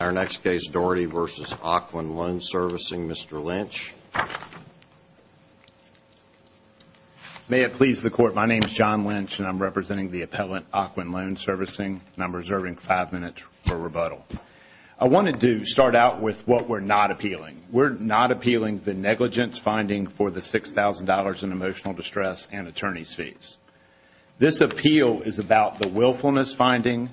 Our next case, Daugherty v. Ocwen Loan Servicing, Mr. Lynch. May it please the Court, my name is John Lynch and I'm representing the appellant, Ocwen Loan Servicing, and I'm reserving five minutes for rebuttal. I wanted to start out with what we're not appealing. We're not appealing the negligence finding for the $6,000 in emotional distress and attorney's fees. This appeal is about the willfulness finding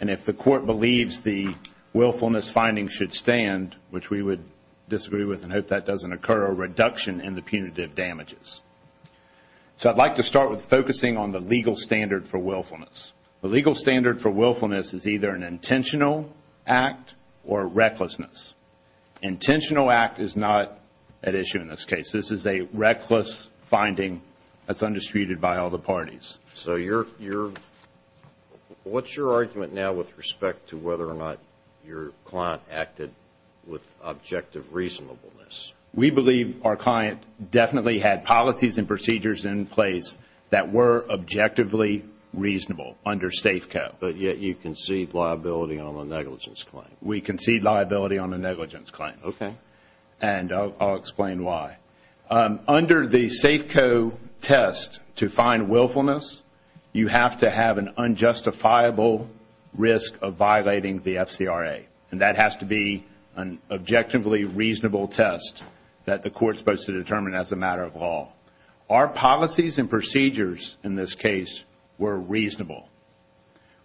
and if the Court believes the willfulness finding should stand, which we would disagree with and hope that doesn't occur, a reduction in the punitive damages. So I'd like to start with focusing on the legal standard for willfulness. The legal standard for willfulness is either an intentional act or recklessness. Intentional act is not at issue in this case. This is a reckless finding that's undisputed by all the parties. So what's your argument now with respect to whether or not your client acted with objective reasonableness? We believe our client definitely had policies and procedures in place that were objectively reasonable under safe cap. But yet you concede liability on the negligence claim. We concede liability on the negligence claim. Okay. And I'll explain why. Under the Safeco test to find willfulness, you have to have an unjustifiable risk of violating the FCRA. And that has to be an objectively reasonable test that the Court is supposed to determine as a matter of law. Our policies and procedures in this case were reasonable.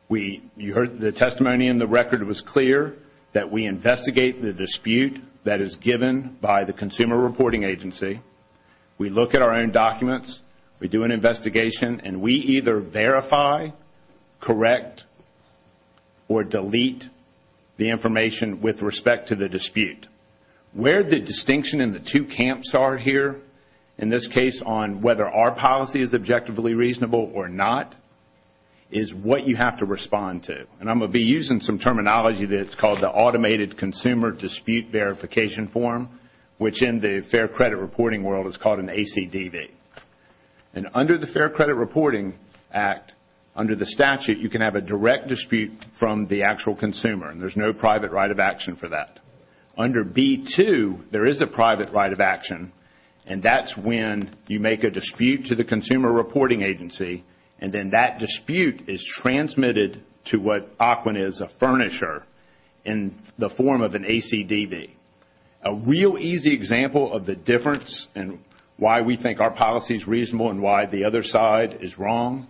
You heard the testimony in the record. It was clear that we investigate the dispute that is given by the Consumer Reporting Agency. We look at our own documents. We do an investigation, and we either verify, correct, or delete the information with respect to the dispute. Where the distinction in the two camps are here, in this case on whether our policy is objectively reasonable or not, is what you have to respond to. And I'm going to be using some terminology that's called the Automated Consumer Dispute Verification Form, which in the fair credit reporting world is called an ACDV. And under the Fair Credit Reporting Act, under the statute, you can have a direct dispute from the actual consumer. And there's no private right of action for that. Under B-2, there is a private right of action. And that's when you make a dispute to the Consumer Reporting Agency, and then that dispute is transmitted to what ACWIN is, a furnisher, in the form of an ACDV. A real easy example of the difference and why we think our policy is reasonable and why the other side is wrong,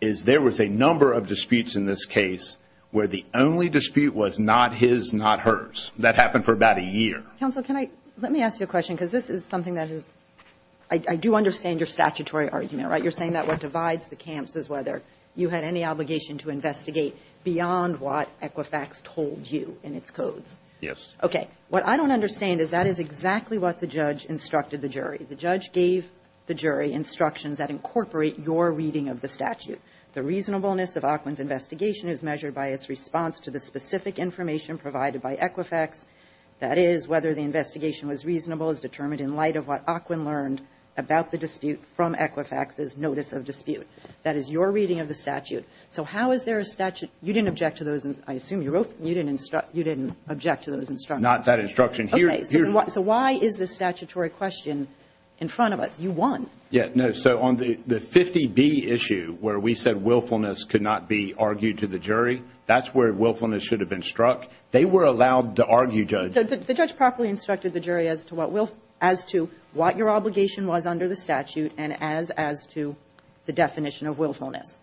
is there was a number of disputes in this case where the only dispute was not his, not hers. That happened for about a year. Counsel, can I, let me ask you a question, because this is something that is, I do understand your statutory argument, right? You're saying that what divides the camps is whether you had any obligation to investigate beyond what Equifax told you in its codes. Yes. Okay. What I don't understand is that is exactly what the judge instructed the jury. The judge gave the jury instructions that incorporate your reading of the statute. The reasonableness of ACWIN's investigation is measured by its response to the specific information provided by Equifax. That is, whether the investigation was reasonable is determined in light of what ACWIN learned about the dispute from Equifax's notice of dispute. That is your reading of the statute. So how is there a statute? You didn't object to those, I assume you wrote, you didn't instruct, you didn't object to those instructions. Not that instruction. Okay. So why is this statutory question in front of us? You won. Yeah. No. So on the 50B issue where we said willfulness could not be argued to the jury, that's where willfulness should have been struck. They were allowed to argue, Judge. The judge properly instructed the jury as to what will, as to what your obligation was under the statute and as to the definition of willfulness.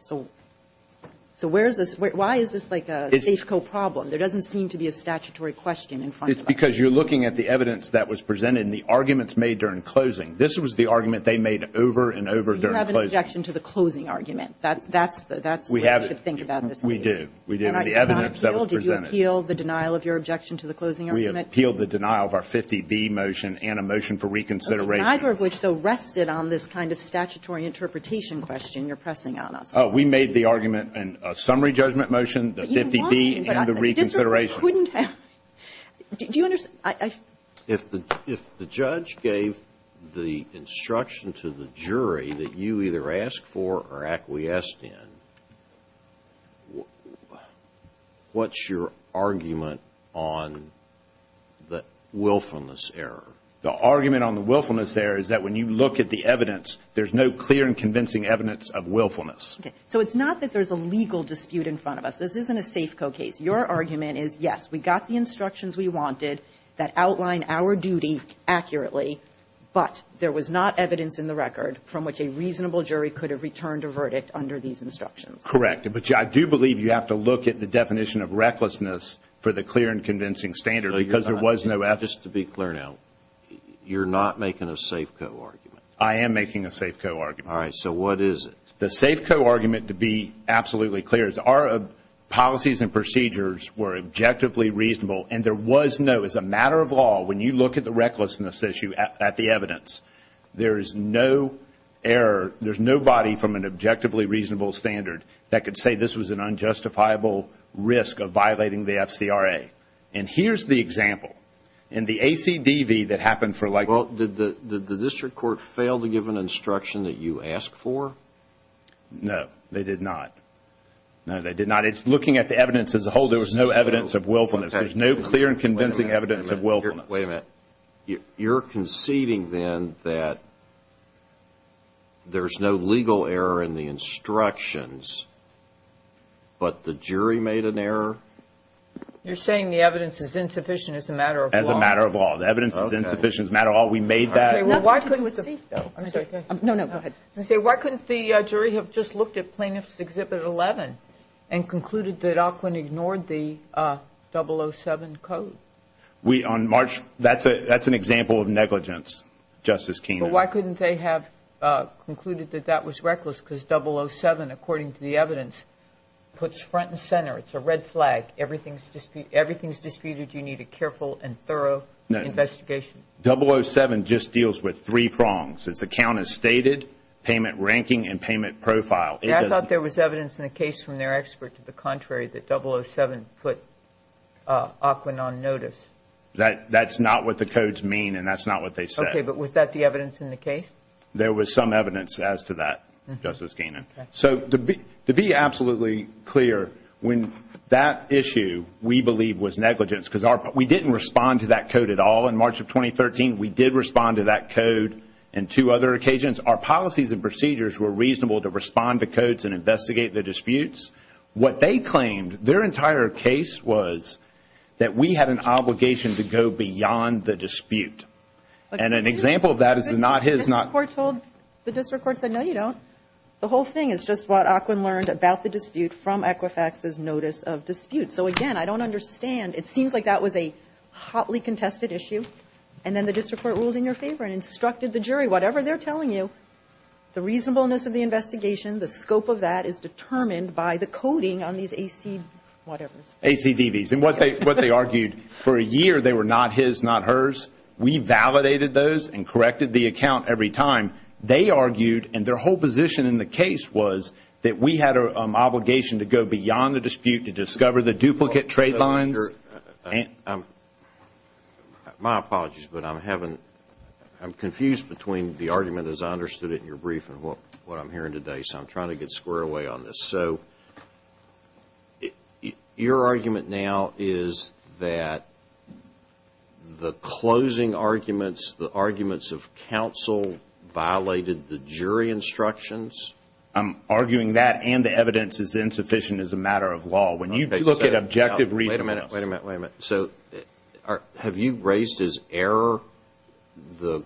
So where is this, why is this like a safe-co problem? There doesn't seem to be a statutory question in front of us. Because you're looking at the evidence that was presented and the arguments made during closing. This was the argument they made over and over during closing. So you have an objection to the closing argument. That's what you should think about in this case. We do. We do. The evidence that was presented. Did you appeal the denial of your objection to the closing argument? We appealed the denial of our 50B motion and a motion for reconsideration. Neither of which, though, rested on this kind of statutory interpretation question you're pressing on us. We made the argument in a summary judgment motion, the 50B and the reconsideration. Do you understand? If the judge gave the instruction to the jury that you either asked for or acquiesced in, what's your argument on the willfulness error? The argument on the willfulness error is that when you look at the evidence, there's no clear and convincing evidence of willfulness. Okay. So it's not that there's a legal dispute in front of us. This isn't a safe-co case. Your argument is, yes, we got the instructions we wanted that outline our duty accurately, but there was not evidence in the record from which a reasonable jury could have returned a verdict under these instructions. Correct. But I do believe you have to look at the definition of recklessness for the clear and convincing standard because there was no evidence. Just to be clear now, you're not making a safe-co argument. I am making a safe-co argument. All right. So what is it? The safe-co argument, to be absolutely clear, is our policies and procedures were objectively reasonable, and there was no, as a matter of law, when you look at the recklessness issue at the evidence, there is no error. There's nobody from an objectively reasonable standard that could say this was an unjustifiable risk of violating the FCRA. And here's the example. In the ACDV that happened for like... Well, did the district court fail to give an instruction that you asked for? No, they did not. No, they did not. It's looking at the evidence as a whole. There was no evidence of willfulness. There's no clear and convincing evidence of willfulness. Wait a minute. You're conceding then that there's no legal error in the instructions, but the jury made an error? You're saying the evidence is insufficient as a matter of law. As a matter of law. The evidence is insufficient as a matter of law. We made that. Why couldn't the jury have just looked at Plaintiff's Exhibit 11 and concluded that Aukwin ignored the 007 code? That's an example of negligence, Justice Kagan. Why couldn't they have concluded that that was reckless because 007, according to the evidence, puts front and center. It's a red flag. Everything's disputed. You need a careful and thorough investigation. 007 just deals with three prongs. It's account as stated, payment ranking, and payment profile. I thought there was evidence in the case from their expert to the contrary that 007 put Aukwin on notice. That's not what the codes mean, and that's not what they said. Okay, but was that the evidence in the case? There was some evidence as to that, Justice Kagan. To be absolutely clear, when that issue, we believe, was negligence because we didn't respond to that code at all in March of 2013. We did respond to that code in two other occasions. Our policies and procedures were reasonable to respond to codes and investigate the disputes. What they claimed, their entire case was that we had an obligation to go beyond the dispute. And an example of that is the not his. The district court said, no, you don't. The whole thing is just what Aukwin learned about the dispute from Equifax's notice of dispute. So, again, I don't understand. It seems like that was a hotly contested issue, and then the district court ruled in your favor and instructed the jury. Whatever they're telling you, the reasonableness of the investigation, the scope of that is determined by the coding on these AC whatevers. ACDVs. And what they argued, for a year they were not his, not hers. We validated those and corrected the account every time. They argued, and their whole position in the case was that we had an obligation to go beyond the dispute to discover the duplicate trade lines. My apologies, but I'm confused between the argument as I understood it in your brief and what I'm hearing today. So I'm trying to get square away on this. So your argument now is that the closing arguments, the arguments of counsel violated the jury instructions? I'm arguing that and the evidence is insufficient as a matter of law. When you look at objective reasonableness. Wait a minute, wait a minute, wait a minute. So have you raised as error the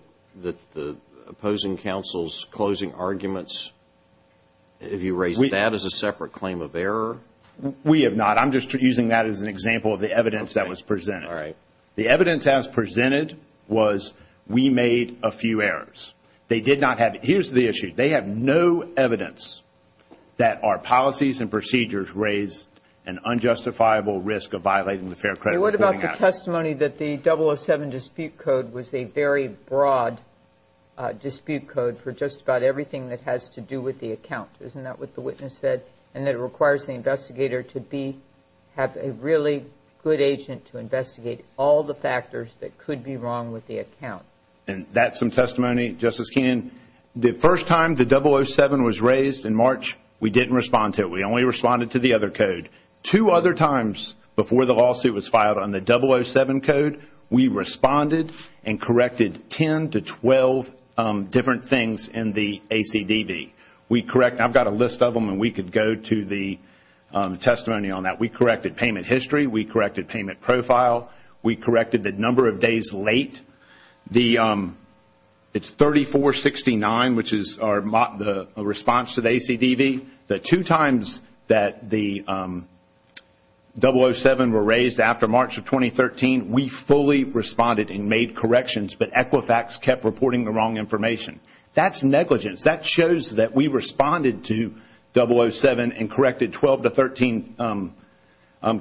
opposing counsel's closing arguments? Have you raised that as a separate claim of error? We have not. I'm just using that as an example of the evidence that was presented. All right. The evidence as presented was we made a few errors. They did not have, here's the issue. They have no evidence that our policies and procedures raised an unjustifiable risk of violating the fair credit reporting act. There is some testimony that the 007 dispute code was a very broad dispute code for just about everything that has to do with the account. Isn't that what the witness said? And that it requires the investigator to be, have a really good agent to investigate all the factors that could be wrong with the account. And that's some testimony. Justice Kenyon, the first time the 007 was raised in March, we didn't respond to it. We only responded to the other code. Two other times before the lawsuit was filed on the 007 code, we responded and corrected 10 to 12 different things in the ACDV. I've got a list of them and we could go to the testimony on that. We corrected payment history. We corrected payment profile. We corrected the number of days late. It's 3469, which is our response to the ACDV. The two times that the 007 were raised after March of 2013, we fully responded and made corrections, but Equifax kept reporting the wrong information. That's negligence. That shows that we responded to 007 and corrected 12 to 13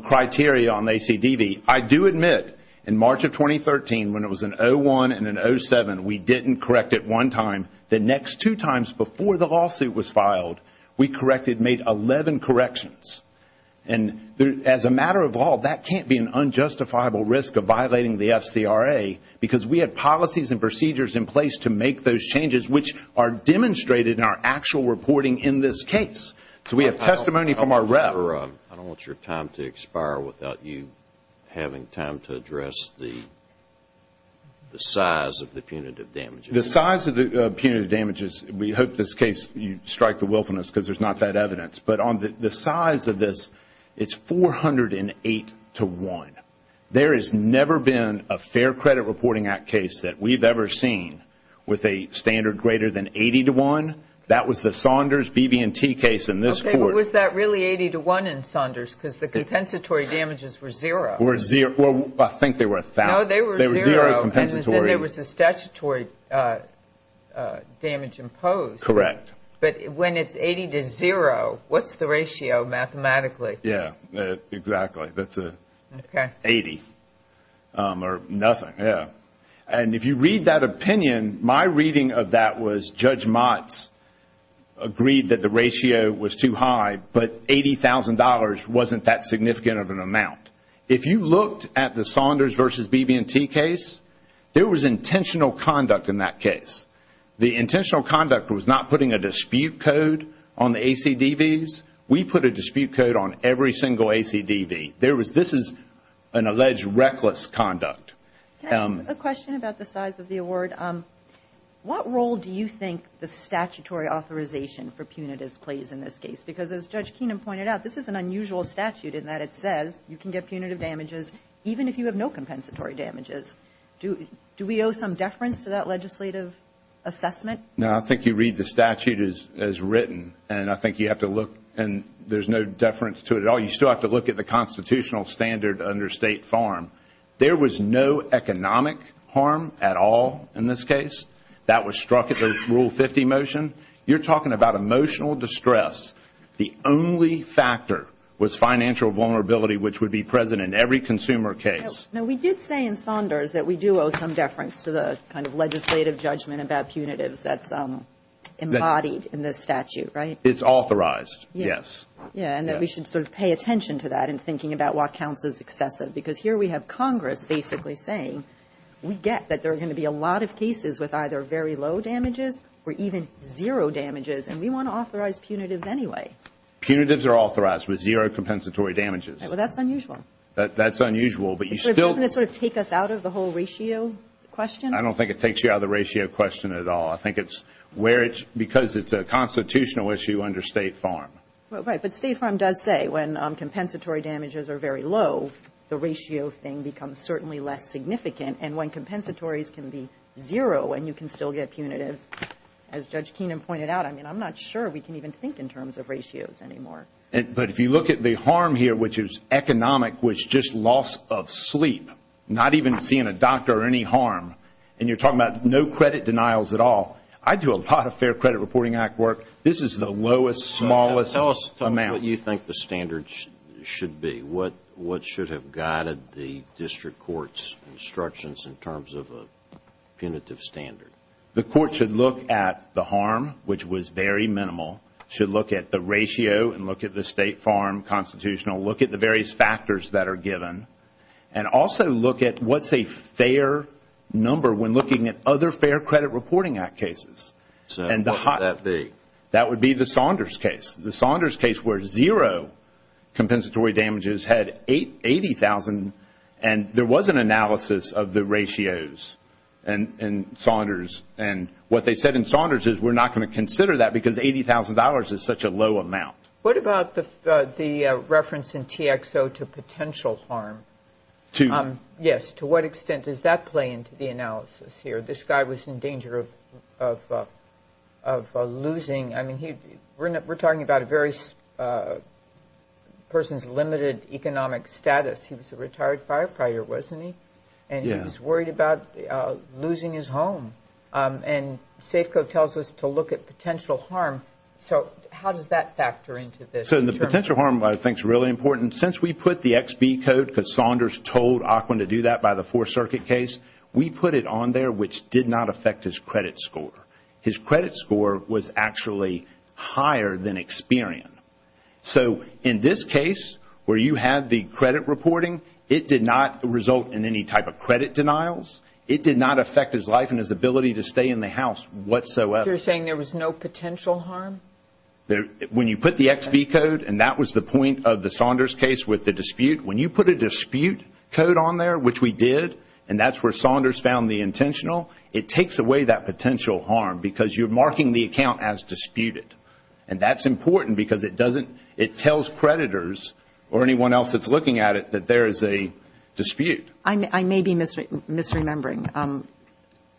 criteria on the ACDV. I do admit, in March of 2013, when it was an 01 and an 07, we didn't correct it one time. The next two times before the lawsuit was filed, we corrected, made 11 corrections. And as a matter of law, that can't be an unjustifiable risk of violating the FCRA, because we had policies and procedures in place to make those changes, which are demonstrated in our actual reporting in this case. So we have testimony from our rep. I don't want your time to expire without you having time to address the size of the punitive damages. The size of the punitive damages, we hope this case, you strike the willfulness because there's not that evidence. But on the size of this, it's 408 to 1. There has never been a Fair Credit Reporting Act case that we've ever seen with a standard greater than 80 to 1. That was the Saunders BB&T case in this court. Okay, but was that really 80 to 1 in Saunders? Because the compensatory damages were 0. I think they were 1,000. No, they were 0. They were 0 compensatory. And there was a statutory damage imposed. Correct. But when it's 80 to 0, what's the ratio mathematically? Yeah, exactly. That's 80 or nothing, yeah. And if you read that opinion, my reading of that was Judge Motz agreed that the ratio was too high, but $80,000 wasn't that significant of an amount. If you looked at the Saunders v. BB&T case, there was intentional conduct in that case. The intentional conduct was not putting a dispute code on the ACDVs. We put a dispute code on every single ACDV. This is an alleged reckless conduct. Can I ask a question about the size of the award? What role do you think the statutory authorization for punitives plays in this case? Because as Judge Keenan pointed out, this is an unusual statute in that it says you can get punitive damages even if you have no compensatory damages. Do we owe some deference to that legislative assessment? No, I think you read the statute as written, and I think you have to look, and there's no deference to it at all. You still have to look at the constitutional standard under State Farm. There was no economic harm at all in this case. That was struck at the Rule 50 motion. You're talking about emotional distress. The only factor was financial vulnerability, which would be present in every consumer case. Now, we did say in Saunders that we do owe some deference to the kind of legislative judgment about punitives that's embodied in this statute, right? It's authorized, yes. Yeah, and that we should sort of pay attention to that in thinking about what counts as excessive because here we have Congress basically saying we get that there are going to be a lot of cases with either very low damages or even zero damages, and we want to authorize punitives anyway. Punitives are authorized with zero compensatory damages. Well, that's unusual. That's unusual, but you still – Doesn't it sort of take us out of the whole ratio question? I don't think it takes you out of the ratio question at all. I think it's where it's – because it's a constitutional issue under State Farm. Right, but State Farm does say when compensatory damages are very low, the ratio thing becomes certainly less significant. And when compensatories can be zero and you can still get punitives, as Judge Keenan pointed out, I mean, I'm not sure we can even think in terms of ratios anymore. But if you look at the harm here, which is economic, which is just loss of sleep, not even seeing a doctor or any harm, and you're talking about no credit denials at all. I do a lot of Fair Credit Reporting Act work. This is the lowest, smallest amount. Tell us what you think the standards should be. What should have guided the district court's instructions in terms of a punitive standard? The court should look at the harm, which was very minimal, should look at the ratio and look at the State Farm constitutional, look at the various factors that are given, and also look at what's a fair number when looking at other Fair Credit Reporting Act cases. What would that be? That would be the Saunders case. The Saunders case where zero compensatory damages had 80,000, and there was an analysis of the ratios in Saunders. And what they said in Saunders is we're not going to consider that because $80,000 is such a low amount. What about the reference in TXO to potential harm? Yes, to what extent does that play into the analysis here? This guy was in danger of losing. I mean, we're talking about a person's limited economic status. He was a retired firefighter, wasn't he? Yes. And he was worried about losing his home. And Safeco tells us to look at potential harm. So how does that factor into this? So the potential harm, I think, is really important. Since we put the XB code, because Saunders told Ocwen to do that by the Fourth Circuit case, we put it on there, which did not affect his credit score. His credit score was actually higher than Experian. So in this case, where you had the credit reporting, it did not result in any type of credit denials. It did not affect his life and his ability to stay in the house whatsoever. So you're saying there was no potential harm? When you put the XB code, and that was the point of the Saunders case with the dispute, when you put a dispute code on there, which we did, and that's where Saunders found the intentional, it takes away that potential harm because you're marking the account as disputed. And that's important because it tells creditors or anyone else that's looking at it that there is a dispute. I may be misremembering.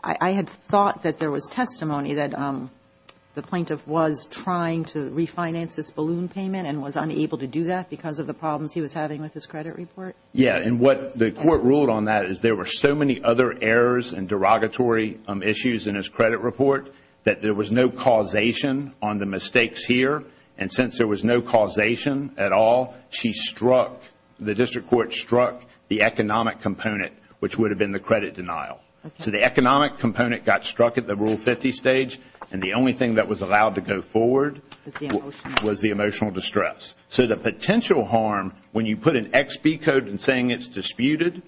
I had thought that there was testimony that the plaintiff was trying to refinance this balloon payment and was unable to do that because of the problems he was having with his credit report. Yeah, and what the court ruled on that is there were so many other errors and derogatory issues in his credit report that there was no causation on the mistakes here. And since there was no causation at all, she struck, the district court struck the economic component, which would have been the credit denial. So the economic component got struck at the Rule 50 stage, and the only thing that was allowed to go forward was the emotional distress. So the potential harm, when you put an XB code in saying it's disputed,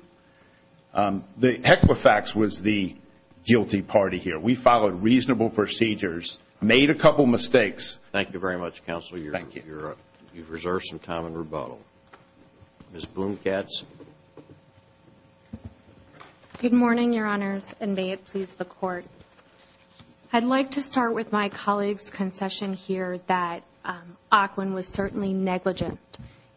the Equifax was the guilty party here. We followed reasonable procedures, made a couple mistakes. Thank you very much, Counsel. Thank you. You've reserved some time in rebuttal. Ms. Bloom-Katz. Good morning, Your Honors, and may it please the Court. I'd like to start with my colleague's concession here that Ocwen was certainly negligent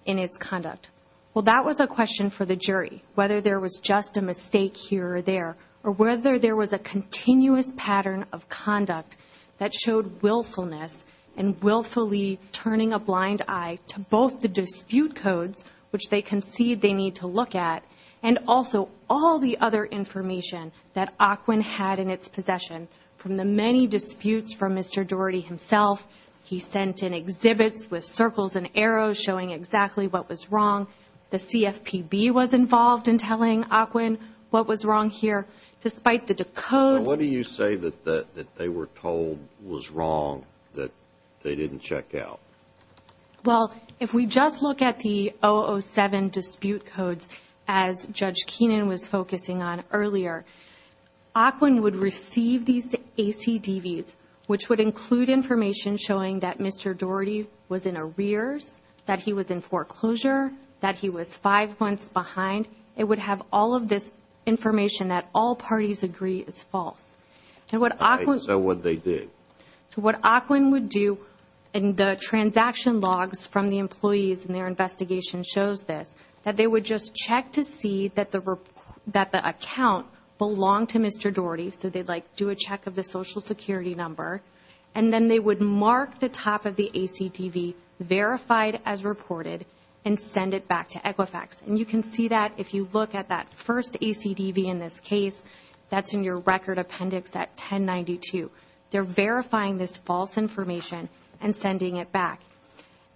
in its conduct. Well, that was a question for the jury, whether there was just a mistake here or there, or whether there was a continuous pattern of conduct that showed willfulness and willfully turning a blind eye to both the dispute codes, which they concede they need to look at, and also all the other information that Ocwen had in its possession from the many disputes from Mr. Doherty himself. He sent in exhibits with circles and arrows showing exactly what was wrong. The CFPB was involved in telling Ocwen what was wrong here, despite the decodes. What do you say that they were told was wrong that they didn't check out? Well, if we just look at the 007 dispute codes, as Judge Keenan was focusing on earlier, Ocwen would receive these ACDVs, which would include information showing that Mr. Doherty was in arrears, that he was in foreclosure, that he was five months behind. It would have all of this information that all parties agree is false. So what they did. So what Ocwen would do in the transaction logs from the employees in their investigation shows this, that they would just check to see that the account belonged to Mr. Doherty, so they'd do a check of the Social Security number, and then they would mark the top of the ACDV, verified as reported, and send it back to Equifax. And you can see that if you look at that first ACDV in this case, that's in your record appendix at 1092. They're verifying this false information and sending it back.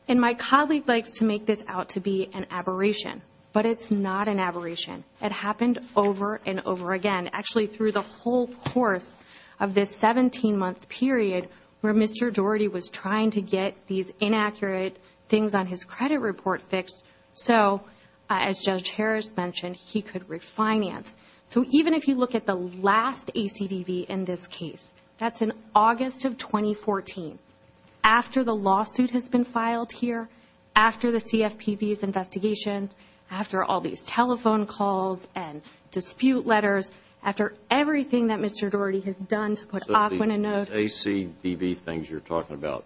And my colleague likes to make this out to be an aberration, but it's not an aberration. It happened over and over again, actually through the whole course of this 17-month period where Mr. Doherty was trying to get these inaccurate things on his credit report fixed so, as Judge Harris mentioned, he could refinance. So even if you look at the last ACDV in this case, that's in August of 2014, after the lawsuit has been filed here, after the CFPB's investigation, after all these telephone calls and dispute letters, after everything that Mr. Doherty has done to put Ocwen in note. So the ACDV things you're talking about,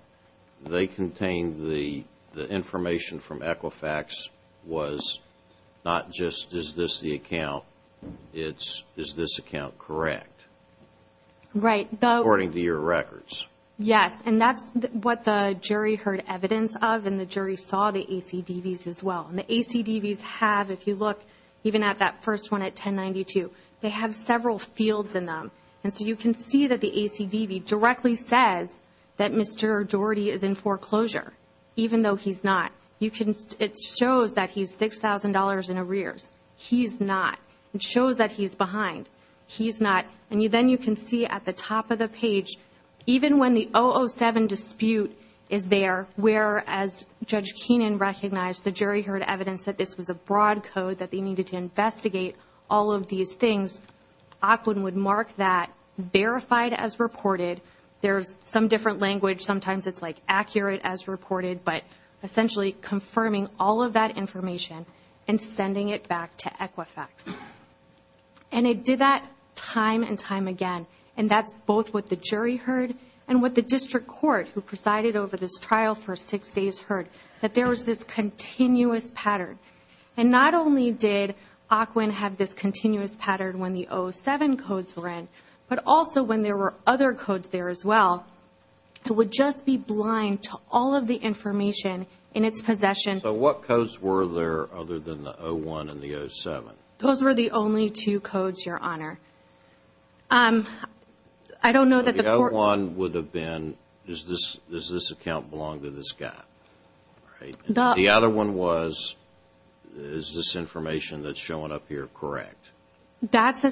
they contain the information from Equifax was not just, is this the account? Is this account correct? Right. According to your records. Yes, and that's what the jury heard evidence of and the jury saw the ACDVs as well. And the ACDVs have, if you look even at that first one at 1092, they have several fields in them. And so you can see that the ACDV directly says that Mr. Doherty is in foreclosure, even though he's not. It shows that he's $6,000 in arrears. He's not. It shows that he's behind. He's not. And then you can see at the top of the page, even when the 007 dispute is there, whereas Judge Keenan recognized the jury heard evidence that this was a broad code, that they needed to investigate all of these things, Ocwen would mark that verified as reported. There's some different language. Sometimes it's like accurate as reported, but essentially confirming all of that information and sending it back to Equifax. And it did that time and time again. And that's both what the jury heard and what the district court, who presided over this trial for six days, heard, that there was this continuous pattern. And not only did Ocwen have this continuous pattern when the 007 codes were in, but also when there were other codes there as well, it would just be blind to all of the information in its possession. So what codes were there other than the 01 and the 07? Those were the only two codes, Your Honor. I don't know that the court – The 01 would have been, does this account belong to this guy? The other one was, is this information that's showing up here correct? That's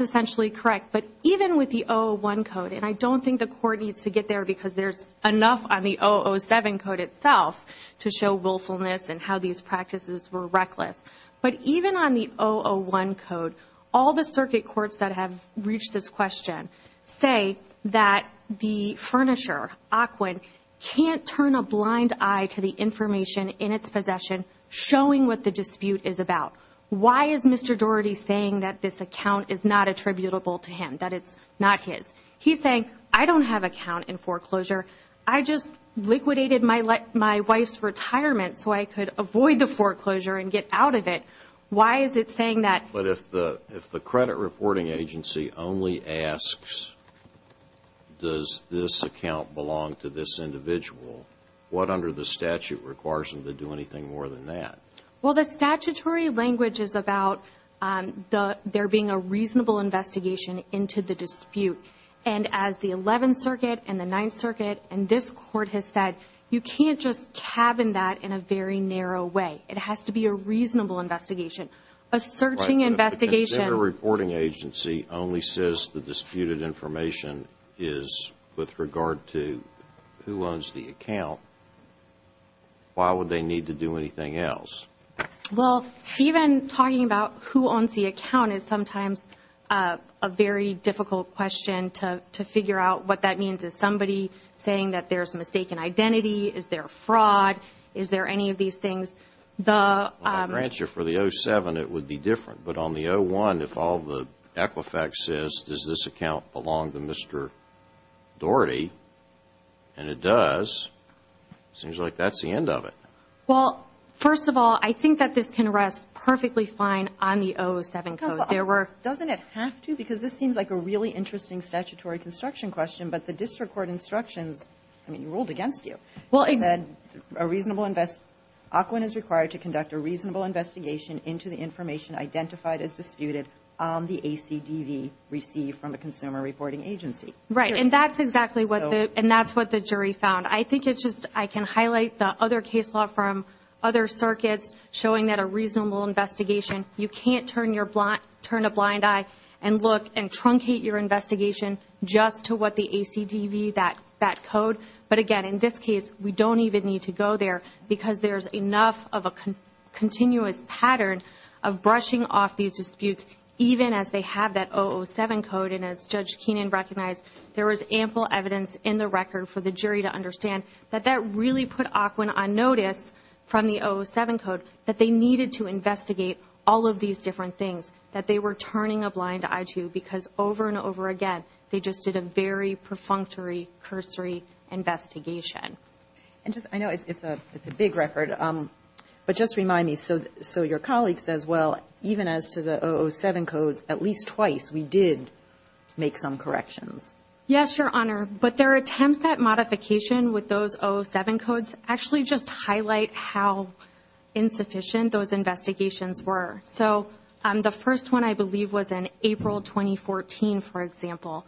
essentially correct. But even with the 001 code, and I don't think the court needs to get there because there's enough on the 007 code itself to show willfulness and how these practices were reckless. But even on the 001 code, all the circuit courts that have reached this question say that the furnisher, Ocwen, can't turn a blind eye to the information in its possession showing what the dispute is about. Why is Mr. Doherty saying that this account is not attributable to him, that it's not his? He's saying, I don't have an account in foreclosure. I just liquidated my wife's retirement so I could avoid the foreclosure and get out of it. Why is it saying that? But if the credit reporting agency only asks, does this account belong to this individual, what under the statute requires them to do anything more than that? Well, the statutory language is about there being a reasonable investigation into the dispute. And as the Eleventh Circuit and the Ninth Circuit and this court has said, you can't just cabin that in a very narrow way. It has to be a reasonable investigation, a searching investigation. But if the credit reporting agency only says the disputed information is with regard to who owns the account, why would they need to do anything else? Well, even talking about who owns the account is sometimes a very difficult question to figure out what that means. Is somebody saying that there's mistaken identity? Is there fraud? Is there any of these things? The answer for the 07, it would be different. But on the 01, if all the Equifax says, does this account belong to Mr. Doherty? And it does. It seems like that's the end of it. Well, first of all, I think that this can rest perfectly fine on the 07 code. Doesn't it have to? Because this seems like a really interesting statutory construction question, but the district court instructions, I mean, ruled against you. It said, a reasonable invest, OCWIN is required to conduct a reasonable investigation into the information identified as disputed on the ACDV received from a consumer reporting agency. Right, and that's exactly what the jury found. I think it's just I can highlight the other case law from other circuits showing that a reasonable investigation, you can't turn a blind eye and look and truncate your investigation just to what the ACDV, that code. But again, in this case, we don't even need to go there because there's enough of a continuous pattern of brushing off these disputes, even as they have that 007 code, and as Judge Keenan recognized, there was ample evidence in the record for the jury to understand that that really put OCWIN on notice from the 07 code, that they needed to investigate all of these different things, that they were turning a blind eye to because over and over again, they just did a very perfunctory cursory investigation. And just, I know it's a big record, but just remind me, so your colleague says, well, even as to the 007 codes, at least twice we did make some corrections. Yes, Your Honor, but there are attempts at modification with those 07 codes, actually just highlight how insufficient those investigations were. So the first one, I believe, was in April 2014, for example.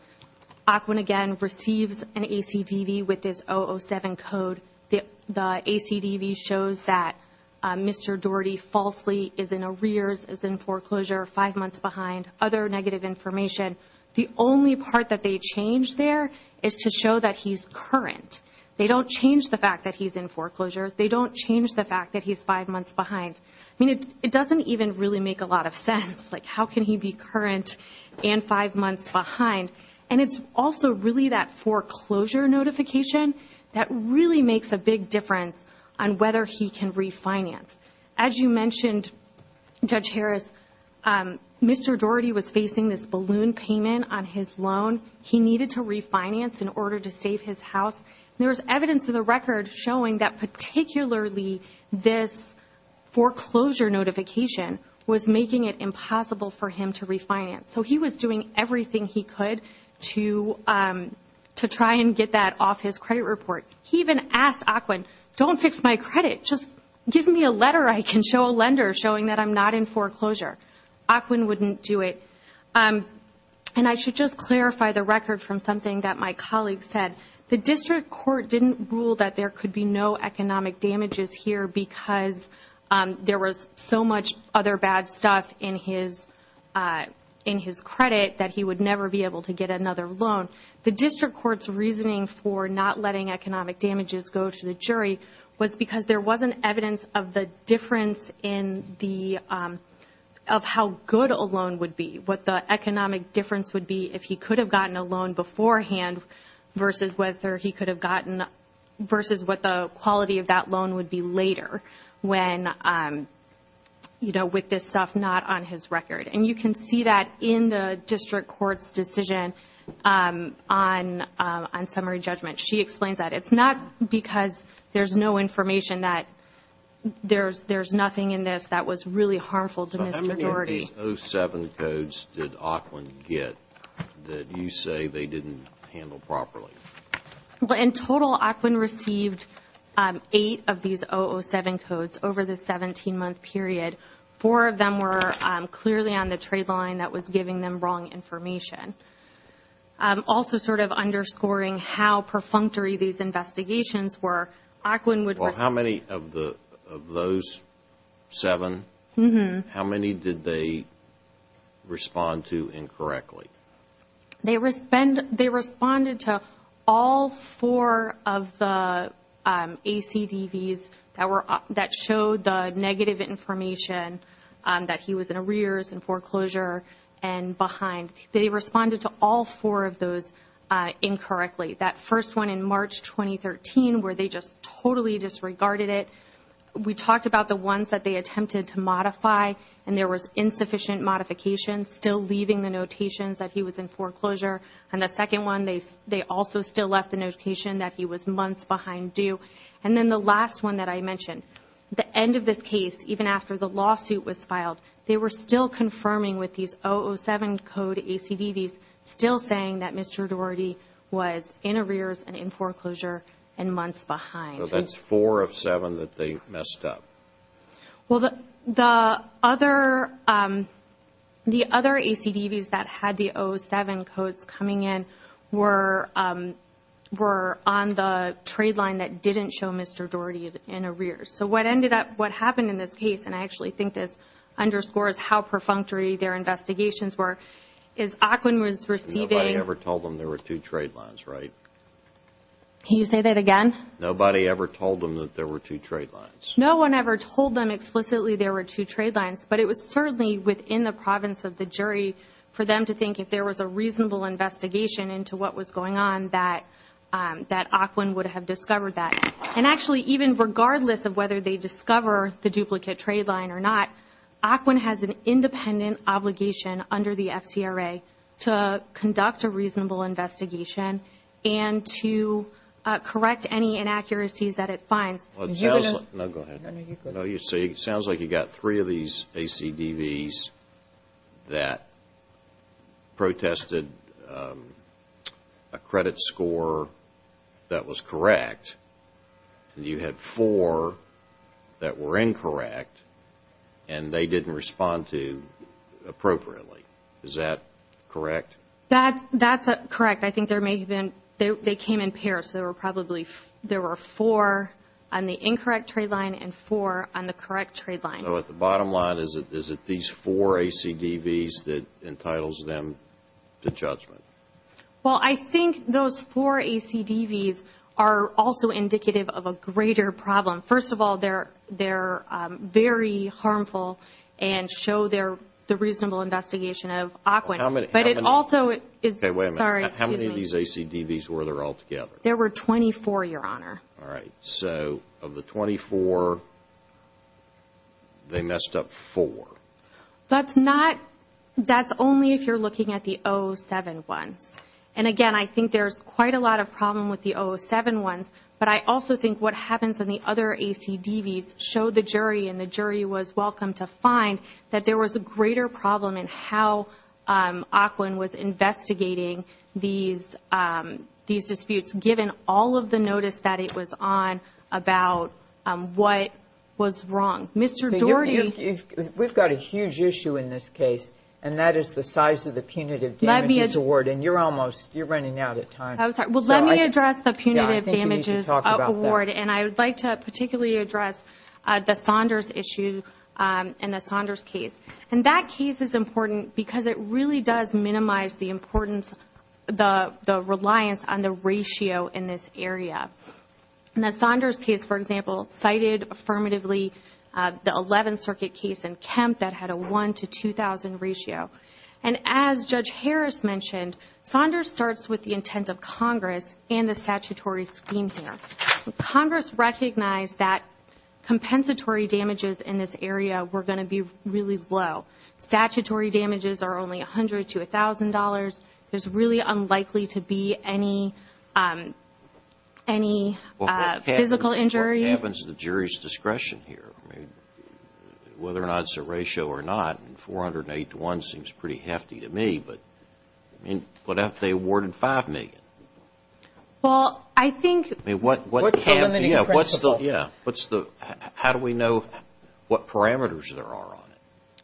OCWIN again receives an ACDV with this 007 code. The ACDV shows that Mr. Doherty falsely is in arrears, is in foreclosure, five months behind, other negative information. The only part that they change there is to show that he's current. They don't change the fact that he's in foreclosure. They don't change the fact that he's five months behind. I mean, it doesn't even really make a lot of sense. Like, how can he be current and five months behind? And it's also really that foreclosure notification that really makes a big difference on whether he can refinance. As you mentioned, Judge Harris, Mr. Doherty was facing this balloon payment on his loan. He needed to refinance in order to save his house. There's evidence in the record showing that particularly this foreclosure notification was making it impossible for him to refinance. So he was doing everything he could to try and get that off his credit report. He even asked ACWIN, don't fix my credit, just give me a letter I can show a lender showing that I'm not in foreclosure. ACWIN wouldn't do it. And I should just clarify the record from something that my colleague said. The district court didn't rule that there could be no economic damages here because there was so much other bad stuff in his credit that he would never be able to get another loan. The district court's reasoning for not letting economic damages go to the jury was because there wasn't evidence of the difference of how good a loan would be, what the economic difference would be if he could have gotten a loan beforehand versus what the quality of that loan would be later with this stuff not on his record. And you can see that in the district court's decision on summary judgment. She explains that it's not because there's no information that there's nothing in this that was really harmful to this majority. How many 007 codes did ACWIN get that you say they didn't handle properly? In total, ACWIN received eight of these 007 codes over the 17-month period. Four of them were clearly on the trade line that was giving them wrong information. Also sort of underscoring how perfunctory these investigations were, ACWIN would- How many of those seven? How many did they respond to incorrectly? They responded to all four of the ACDVs that showed the negative information that he was in arrears and foreclosure and behind. They responded to all four of those incorrectly. That first one in March 2013 where they just totally disregarded it. We talked about the ones that they attempted to modify and there was insufficient modification still leaving the notations that he was in foreclosure. And the second one, they also still left the notation that he was months behind due. And then the last one that I mentioned, the end of this case, even after the lawsuit was filed, they were still confirming with these 007 code ACDVs, still saying that Mr. Daugherty was in arrears and in foreclosure and months behind. So that's four of seven that they messed up. Well, the other ACDVs that had the 007 codes coming in were on the trade line that didn't show Mr. Daugherty in arrears. So what ended up, what happened in this case, and I actually think this underscores how perfunctory their investigations were, is ACWIN was receiving- Nobody ever told them there were two trade lines, right? Can you say that again? Nobody ever told them that there were two trade lines. No one ever told them explicitly there were two trade lines, but it was certainly within the province of the jury for them to think if there was a reasonable investigation into what was going on, that ACWIN would have discovered that. And actually, even regardless of whether they discover the duplicate trade line or not, ACWIN has an independent obligation under the FCRA to conduct a reasonable investigation and to correct any inaccuracies that it finds. Well, it sounds like- No, go ahead. No, you go ahead. No, you see, it sounds like you got three of these ACDVs that protested a credit score that was correct, and you had four that were incorrect, and they didn't respond to appropriately. Is that correct? That's correct. I think they came in pairs, so there were four on the incorrect trade line and four on the correct trade line. So at the bottom line, is it these four ACDVs that entitles them to judgment? Well, I think those four ACDVs are also indicative of a greater problem. First of all, they're very harmful and show the reasonable investigation of ACWIN. But it also is- Okay, wait a minute. Sorry, excuse me. How many of these ACDVs were there altogether? There were 24, Your Honor. All right. So of the 24, they messed up four. That's only if you're looking at the 07 ones. And again, I think there's quite a lot of problem with the 07 ones, but I also think what happens in the other ACDVs showed the jury, and the jury was welcome to find, that there was a greater problem in how ACWIN was investigating these disputes, given all of the notice that it was on about what was wrong. Mr. Doherty- We've got a huge issue in this case, and that is the size of the punitive damages award, and you're running out of time. I'm sorry. Well, let me address the punitive damages award, and I would like to particularly address the Saunders issue in the Saunders case. And that case is important because it really does minimize the importance, the reliance on the ratio in this area. In the Saunders case, for example, cited affirmatively the 11th Circuit case in Kemp that had a 1 to 2,000 ratio. And as Judge Harris mentioned, Saunders starts with the intent of Congress and the statutory scheme here. Congress recognized that compensatory damages in this area were going to be really low. Statutory damages are only $100 to $1,000. There's really unlikely to be any physical injury. What happens to the jury's discretion here? Whether or not it's a ratio or not, 408 to 1 seems pretty hefty to me, but what if they awarded 5 million? Well, I think- What's the limiting principle? Yeah. How do we know what parameters there are on it?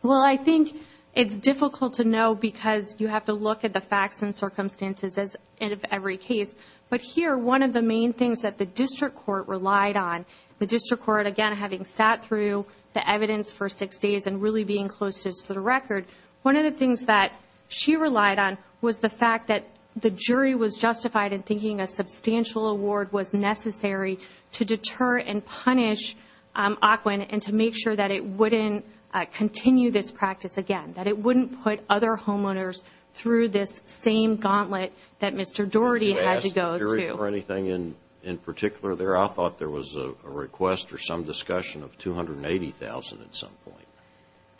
Well, I think it's difficult to know because you have to look at the facts and circumstances of every case. But here, one of the main things that the district court relied on, the district court, again, having sat through the evidence for six days and really being close to the record, one of the things that she relied on was the fact that the jury was justified in thinking a substantial award was necessary to deter and punish Ocwen and to make sure that it wouldn't continue this practice again, that it wouldn't put other homeowners through this same gauntlet that Mr. Doherty had to go through. I don't remember anything in particular there. I thought there was a request or some discussion of 280,000 at some point.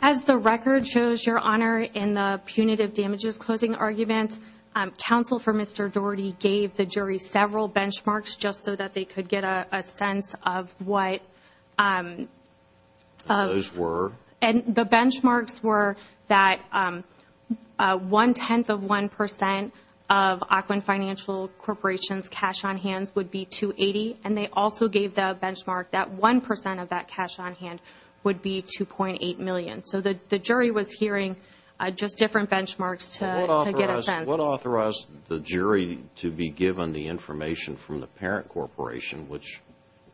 As the record shows, Your Honor, in the punitive damages closing argument, counsel for Mr. Doherty gave the jury several benchmarks just so that they could get a sense of what- Those were? And the benchmarks were that one-tenth of one percent of Ocwen Financial Corporation's cash on hands would be 280,000, and they also gave the benchmark that one percent of that cash on hand would be 2.8 million. So the jury was hearing just different benchmarks to get a sense. What authorized the jury to be given the information from the parent corporation, which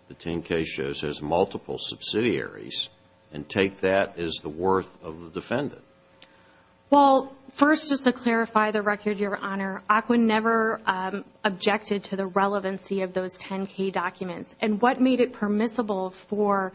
the 10-K shows has multiple subsidiaries, and take that as the worth of the defendant? Well, first, just to clarify the record, Your Honor, Ocwen never objected to the relevancy of those 10-K documents. And what made it permissible for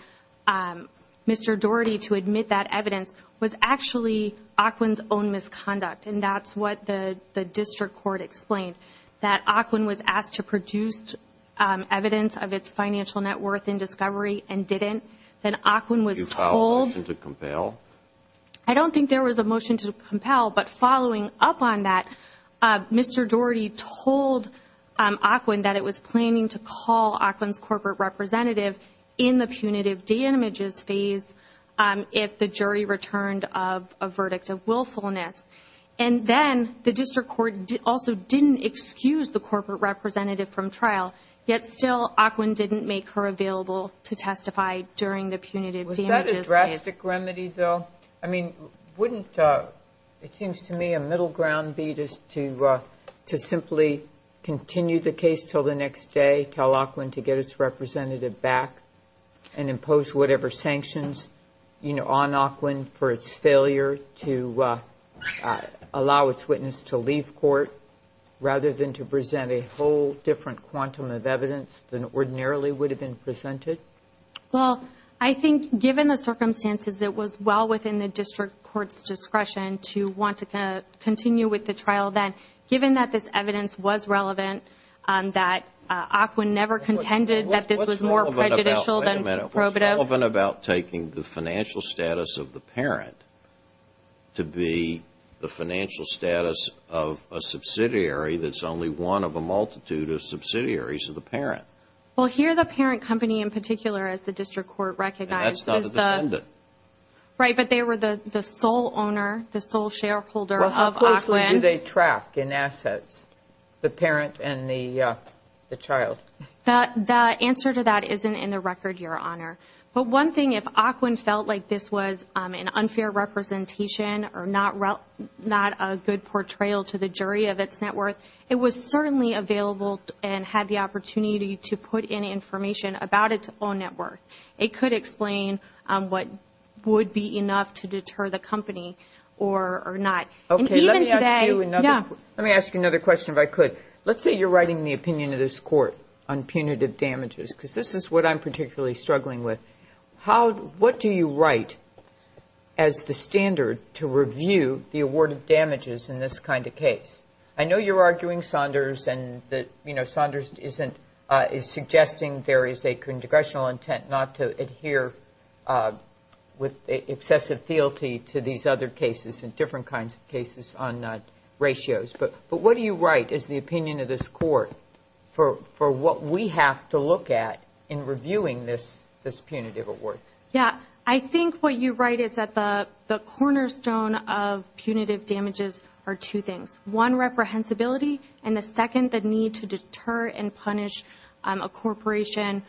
Mr. Doherty to admit that evidence was actually Ocwen's own misconduct, and that's what the district court explained, that Ocwen was asked to produce evidence of its financial net worth in discovery and didn't. Then Ocwen was told- Did you file a motion to compel? I don't think there was a motion to compel, but following up on that, Mr. Doherty told Ocwen that it was planning to call Ocwen's corporate representative in the punitive damages phase if the jury returned a verdict of willfulness. And then the district court also didn't excuse the corporate representative from trial, yet still Ocwen didn't make her available to testify during the punitive damages phase. Was that a drastic remedy, though? I mean, wouldn't-it seems to me a middle ground beat is to simply continue the case until the next day, tell Ocwen to get its representative back, and impose whatever sanctions on Ocwen for its failure to allow its witness to leave court rather than to present a whole different quantum of evidence than ordinarily would have been presented. Well, I think given the circumstances, it was well within the district court's discretion to want to continue with the trial then. Given that this evidence was relevant, that Ocwen never contended that this was more prejudicial than probative- It was relevant about taking the financial status of the parent to be the financial status of a subsidiary that's only one of a multitude of subsidiaries of the parent. Well, here the parent company in particular, as the district court recognized- And that's not the defendant. Right, but they were the sole owner, the sole shareholder of Ocwen. Well, how closely do they track in assets, the parent and the child? The answer to that isn't in the record, Your Honor. But one thing, if Ocwen felt like this was an unfair representation or not a good portrayal to the jury of its net worth, it was certainly available and had the opportunity to put in information about its own net worth. It could explain what would be enough to deter the company or not. Okay, let me ask you another question if I could. Let's say you're writing the opinion of this court on punitive damages, because this is what I'm particularly struggling with. What do you write as the standard to review the award of damages in this kind of case? I know you're arguing Saunders, and Saunders is suggesting there is a congressional intent not to adhere with excessive fealty to these other cases and different kinds of cases on ratios. But what do you write as the opinion of this court for what we have to look at in reviewing this punitive award? Yeah, I think what you write is that the cornerstone of punitive damages are two things. One, reprehensibility, and the second, the need to deter and punish a corporation,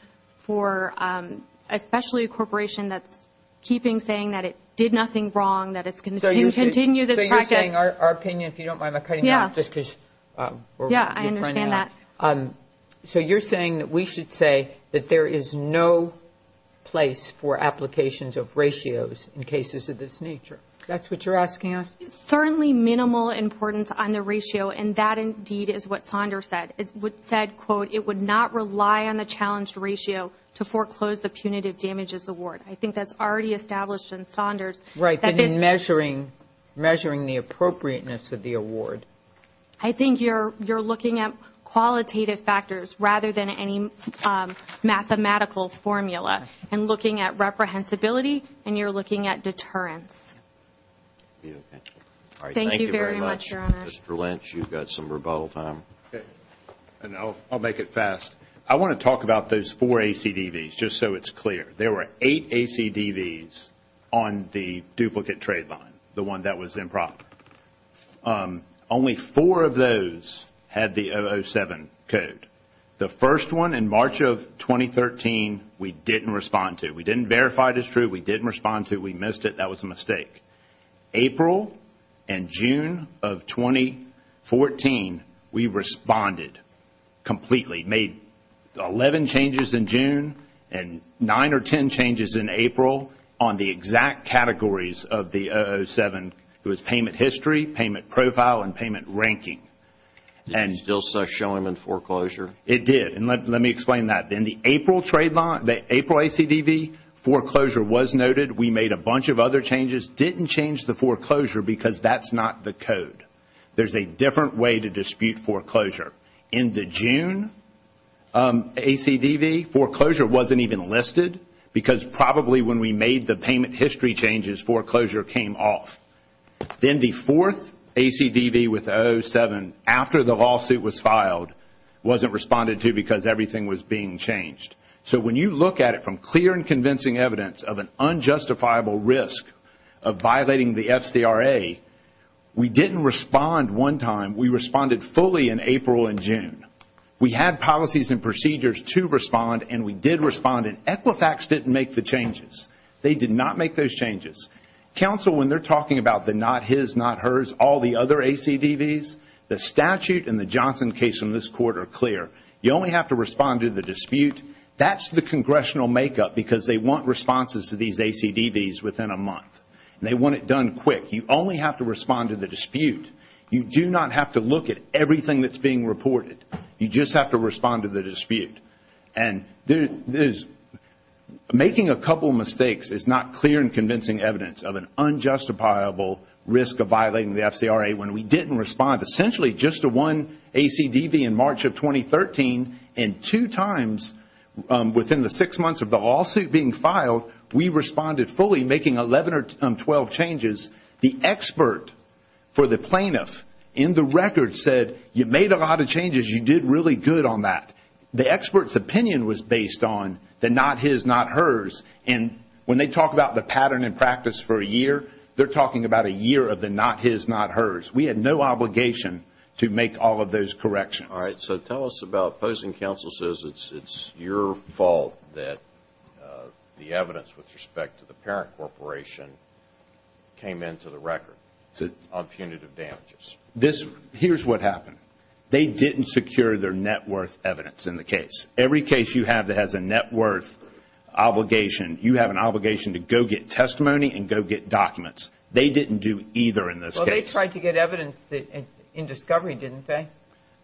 especially a corporation that's keeping saying that it did nothing wrong, that it's going to continue this practice. You're saying our opinion, if you don't mind my cutting you off just because we're good friends. Yeah, I understand that. So you're saying that we should say that there is no place for applications of ratios in cases of this nature. That's what you're asking us? Certainly minimal importance on the ratio, and that indeed is what Saunders said. It said, quote, it would not rely on the challenged ratio to foreclose the punitive damages award. I think that's already established in Saunders. Right, and in measuring the appropriateness of the award. I think you're looking at qualitative factors rather than any mathematical formula, and looking at reprehensibility, and you're looking at deterrence. Thank you very much, Your Honor. Thank you very much, Mr. Lynch. You've got some rebuttal time. I'll make it fast. I want to talk about those four ACDVs, just so it's clear. There were eight ACDVs on the duplicate trade line, the one that was improper. Only four of those had the 007 code. The first one, in March of 2013, we didn't respond to. We didn't verify it as true. We didn't respond to. We missed it. That was a mistake. April and June of 2014, we responded completely. Made 11 changes in June and 9 or 10 changes in April on the exact categories of the 007. It was payment history, payment profile, and payment ranking. Did it still show them in foreclosure? It did, and let me explain that. In the April ACDV, foreclosure was noted. We made a bunch of other changes. Didn't change the foreclosure because that's not the code. There's a different way to dispute foreclosure. In the June ACDV, foreclosure wasn't even listed because probably when we made the payment history changes, foreclosure came off. Then the fourth ACDV with 007, after the lawsuit was filed, wasn't responded to because everything was being changed. When you look at it from clear and convincing evidence of an unjustifiable risk of violating the FCRA, we didn't respond one time. We responded fully in April and June. We had policies and procedures to respond, and we did respond, and Equifax didn't make the changes. They did not make those changes. Counsel, when they're talking about the not his, not hers, all the other ACDVs, the statute and the Johnson case in this court are clear. You only have to respond to the dispute. That's the congressional makeup because they want responses to these ACDVs within a month. They want it done quick. You only have to respond to the dispute. You do not have to look at everything that's being reported. You just have to respond to the dispute. And making a couple mistakes is not clear and convincing evidence of an unjustifiable risk of violating the FCRA. When we didn't respond essentially just to one ACDV in March of 2013, and two times within the six months of the lawsuit being filed, we responded fully making 11 or 12 changes. The expert for the plaintiff in the record said you made a lot of changes. You did really good on that. The expert's opinion was based on the not his, not hers. And when they talk about the pattern in practice for a year, they're talking about a year of the not his, not hers. We had no obligation to make all of those corrections. All right. So tell us about opposing counsel says it's your fault that the evidence with respect to the parent corporation came into the record on punitive damages. Here's what happened. They didn't secure their net worth evidence in the case. Every case you have that has a net worth obligation, you have an obligation to go get testimony and go get documents. They didn't do either in this case. Well, they tried to get evidence in discovery, didn't they?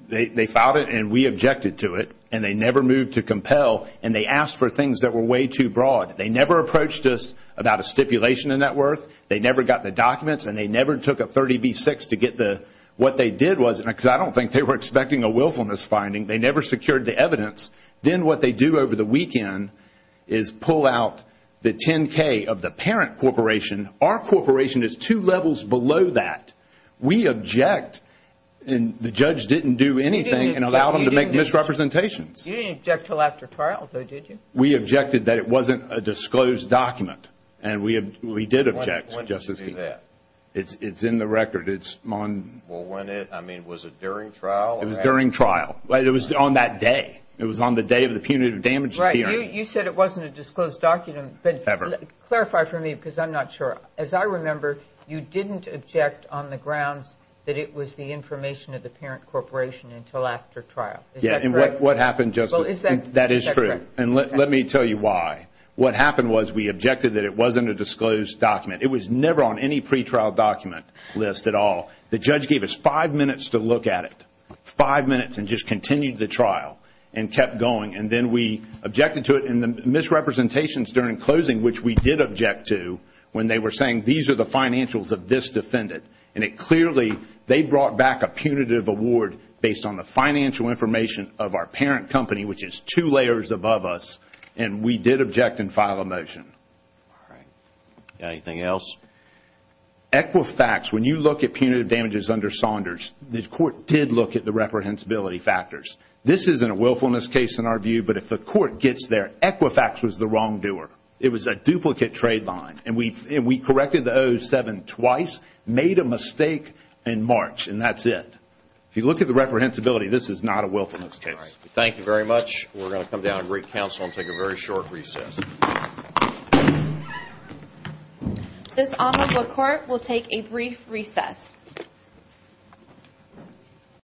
They filed it, and we objected to it, and they never moved to compel, and they asked for things that were way too broad. They never approached us about a stipulation in net worth. They never got the documents, and they never took a 30B6 to get what they did was, because I don't think they were expecting a willfulness finding. They never secured the evidence. Then what they do over the weekend is pull out the 10K of the parent corporation. Our corporation is two levels below that. We object, and the judge didn't do anything and allow them to make misrepresentations. You didn't object until after trial, though, did you? We objected that it wasn't a disclosed document, and we did object, Justice Kennedy. When did you do that? It's in the record. Was it during trial? It was during trial. It was on that day. It was on the day of the punitive damage hearing. Right. You said it wasn't a disclosed document. Ever. Clarify for me, because I'm not sure. As I remember, you didn't object on the grounds that it was the information of the parent corporation until after trial. Is that correct? Yes. And what happened, Justice? Is that correct? That is true, and let me tell you why. What happened was we objected that it wasn't a disclosed document. It was never on any pretrial document list at all. The judge gave us five minutes to look at it, five minutes, and just continued the trial and kept going. And then we objected to it, and the misrepresentations during closing, which we did object to, when they were saying these are the financials of this defendant, they brought back a punitive award based on the financial information of our parent company, which is two layers above us, and we did object and file a motion. All right. Anything else? Equifax, when you look at punitive damages under Saunders, the court did look at the reprehensibility factors. This isn't a willfulness case in our view, but if the court gets there, Equifax was the wrongdoer. It was a duplicate trade line, and we corrected the 007 twice, made a mistake in March, and that's it. If you look at the reprehensibility, this is not a willfulness case. All right. Thank you very much. We're going to come down and recounsel and take a very short recess. This honorable court will take a brief recess.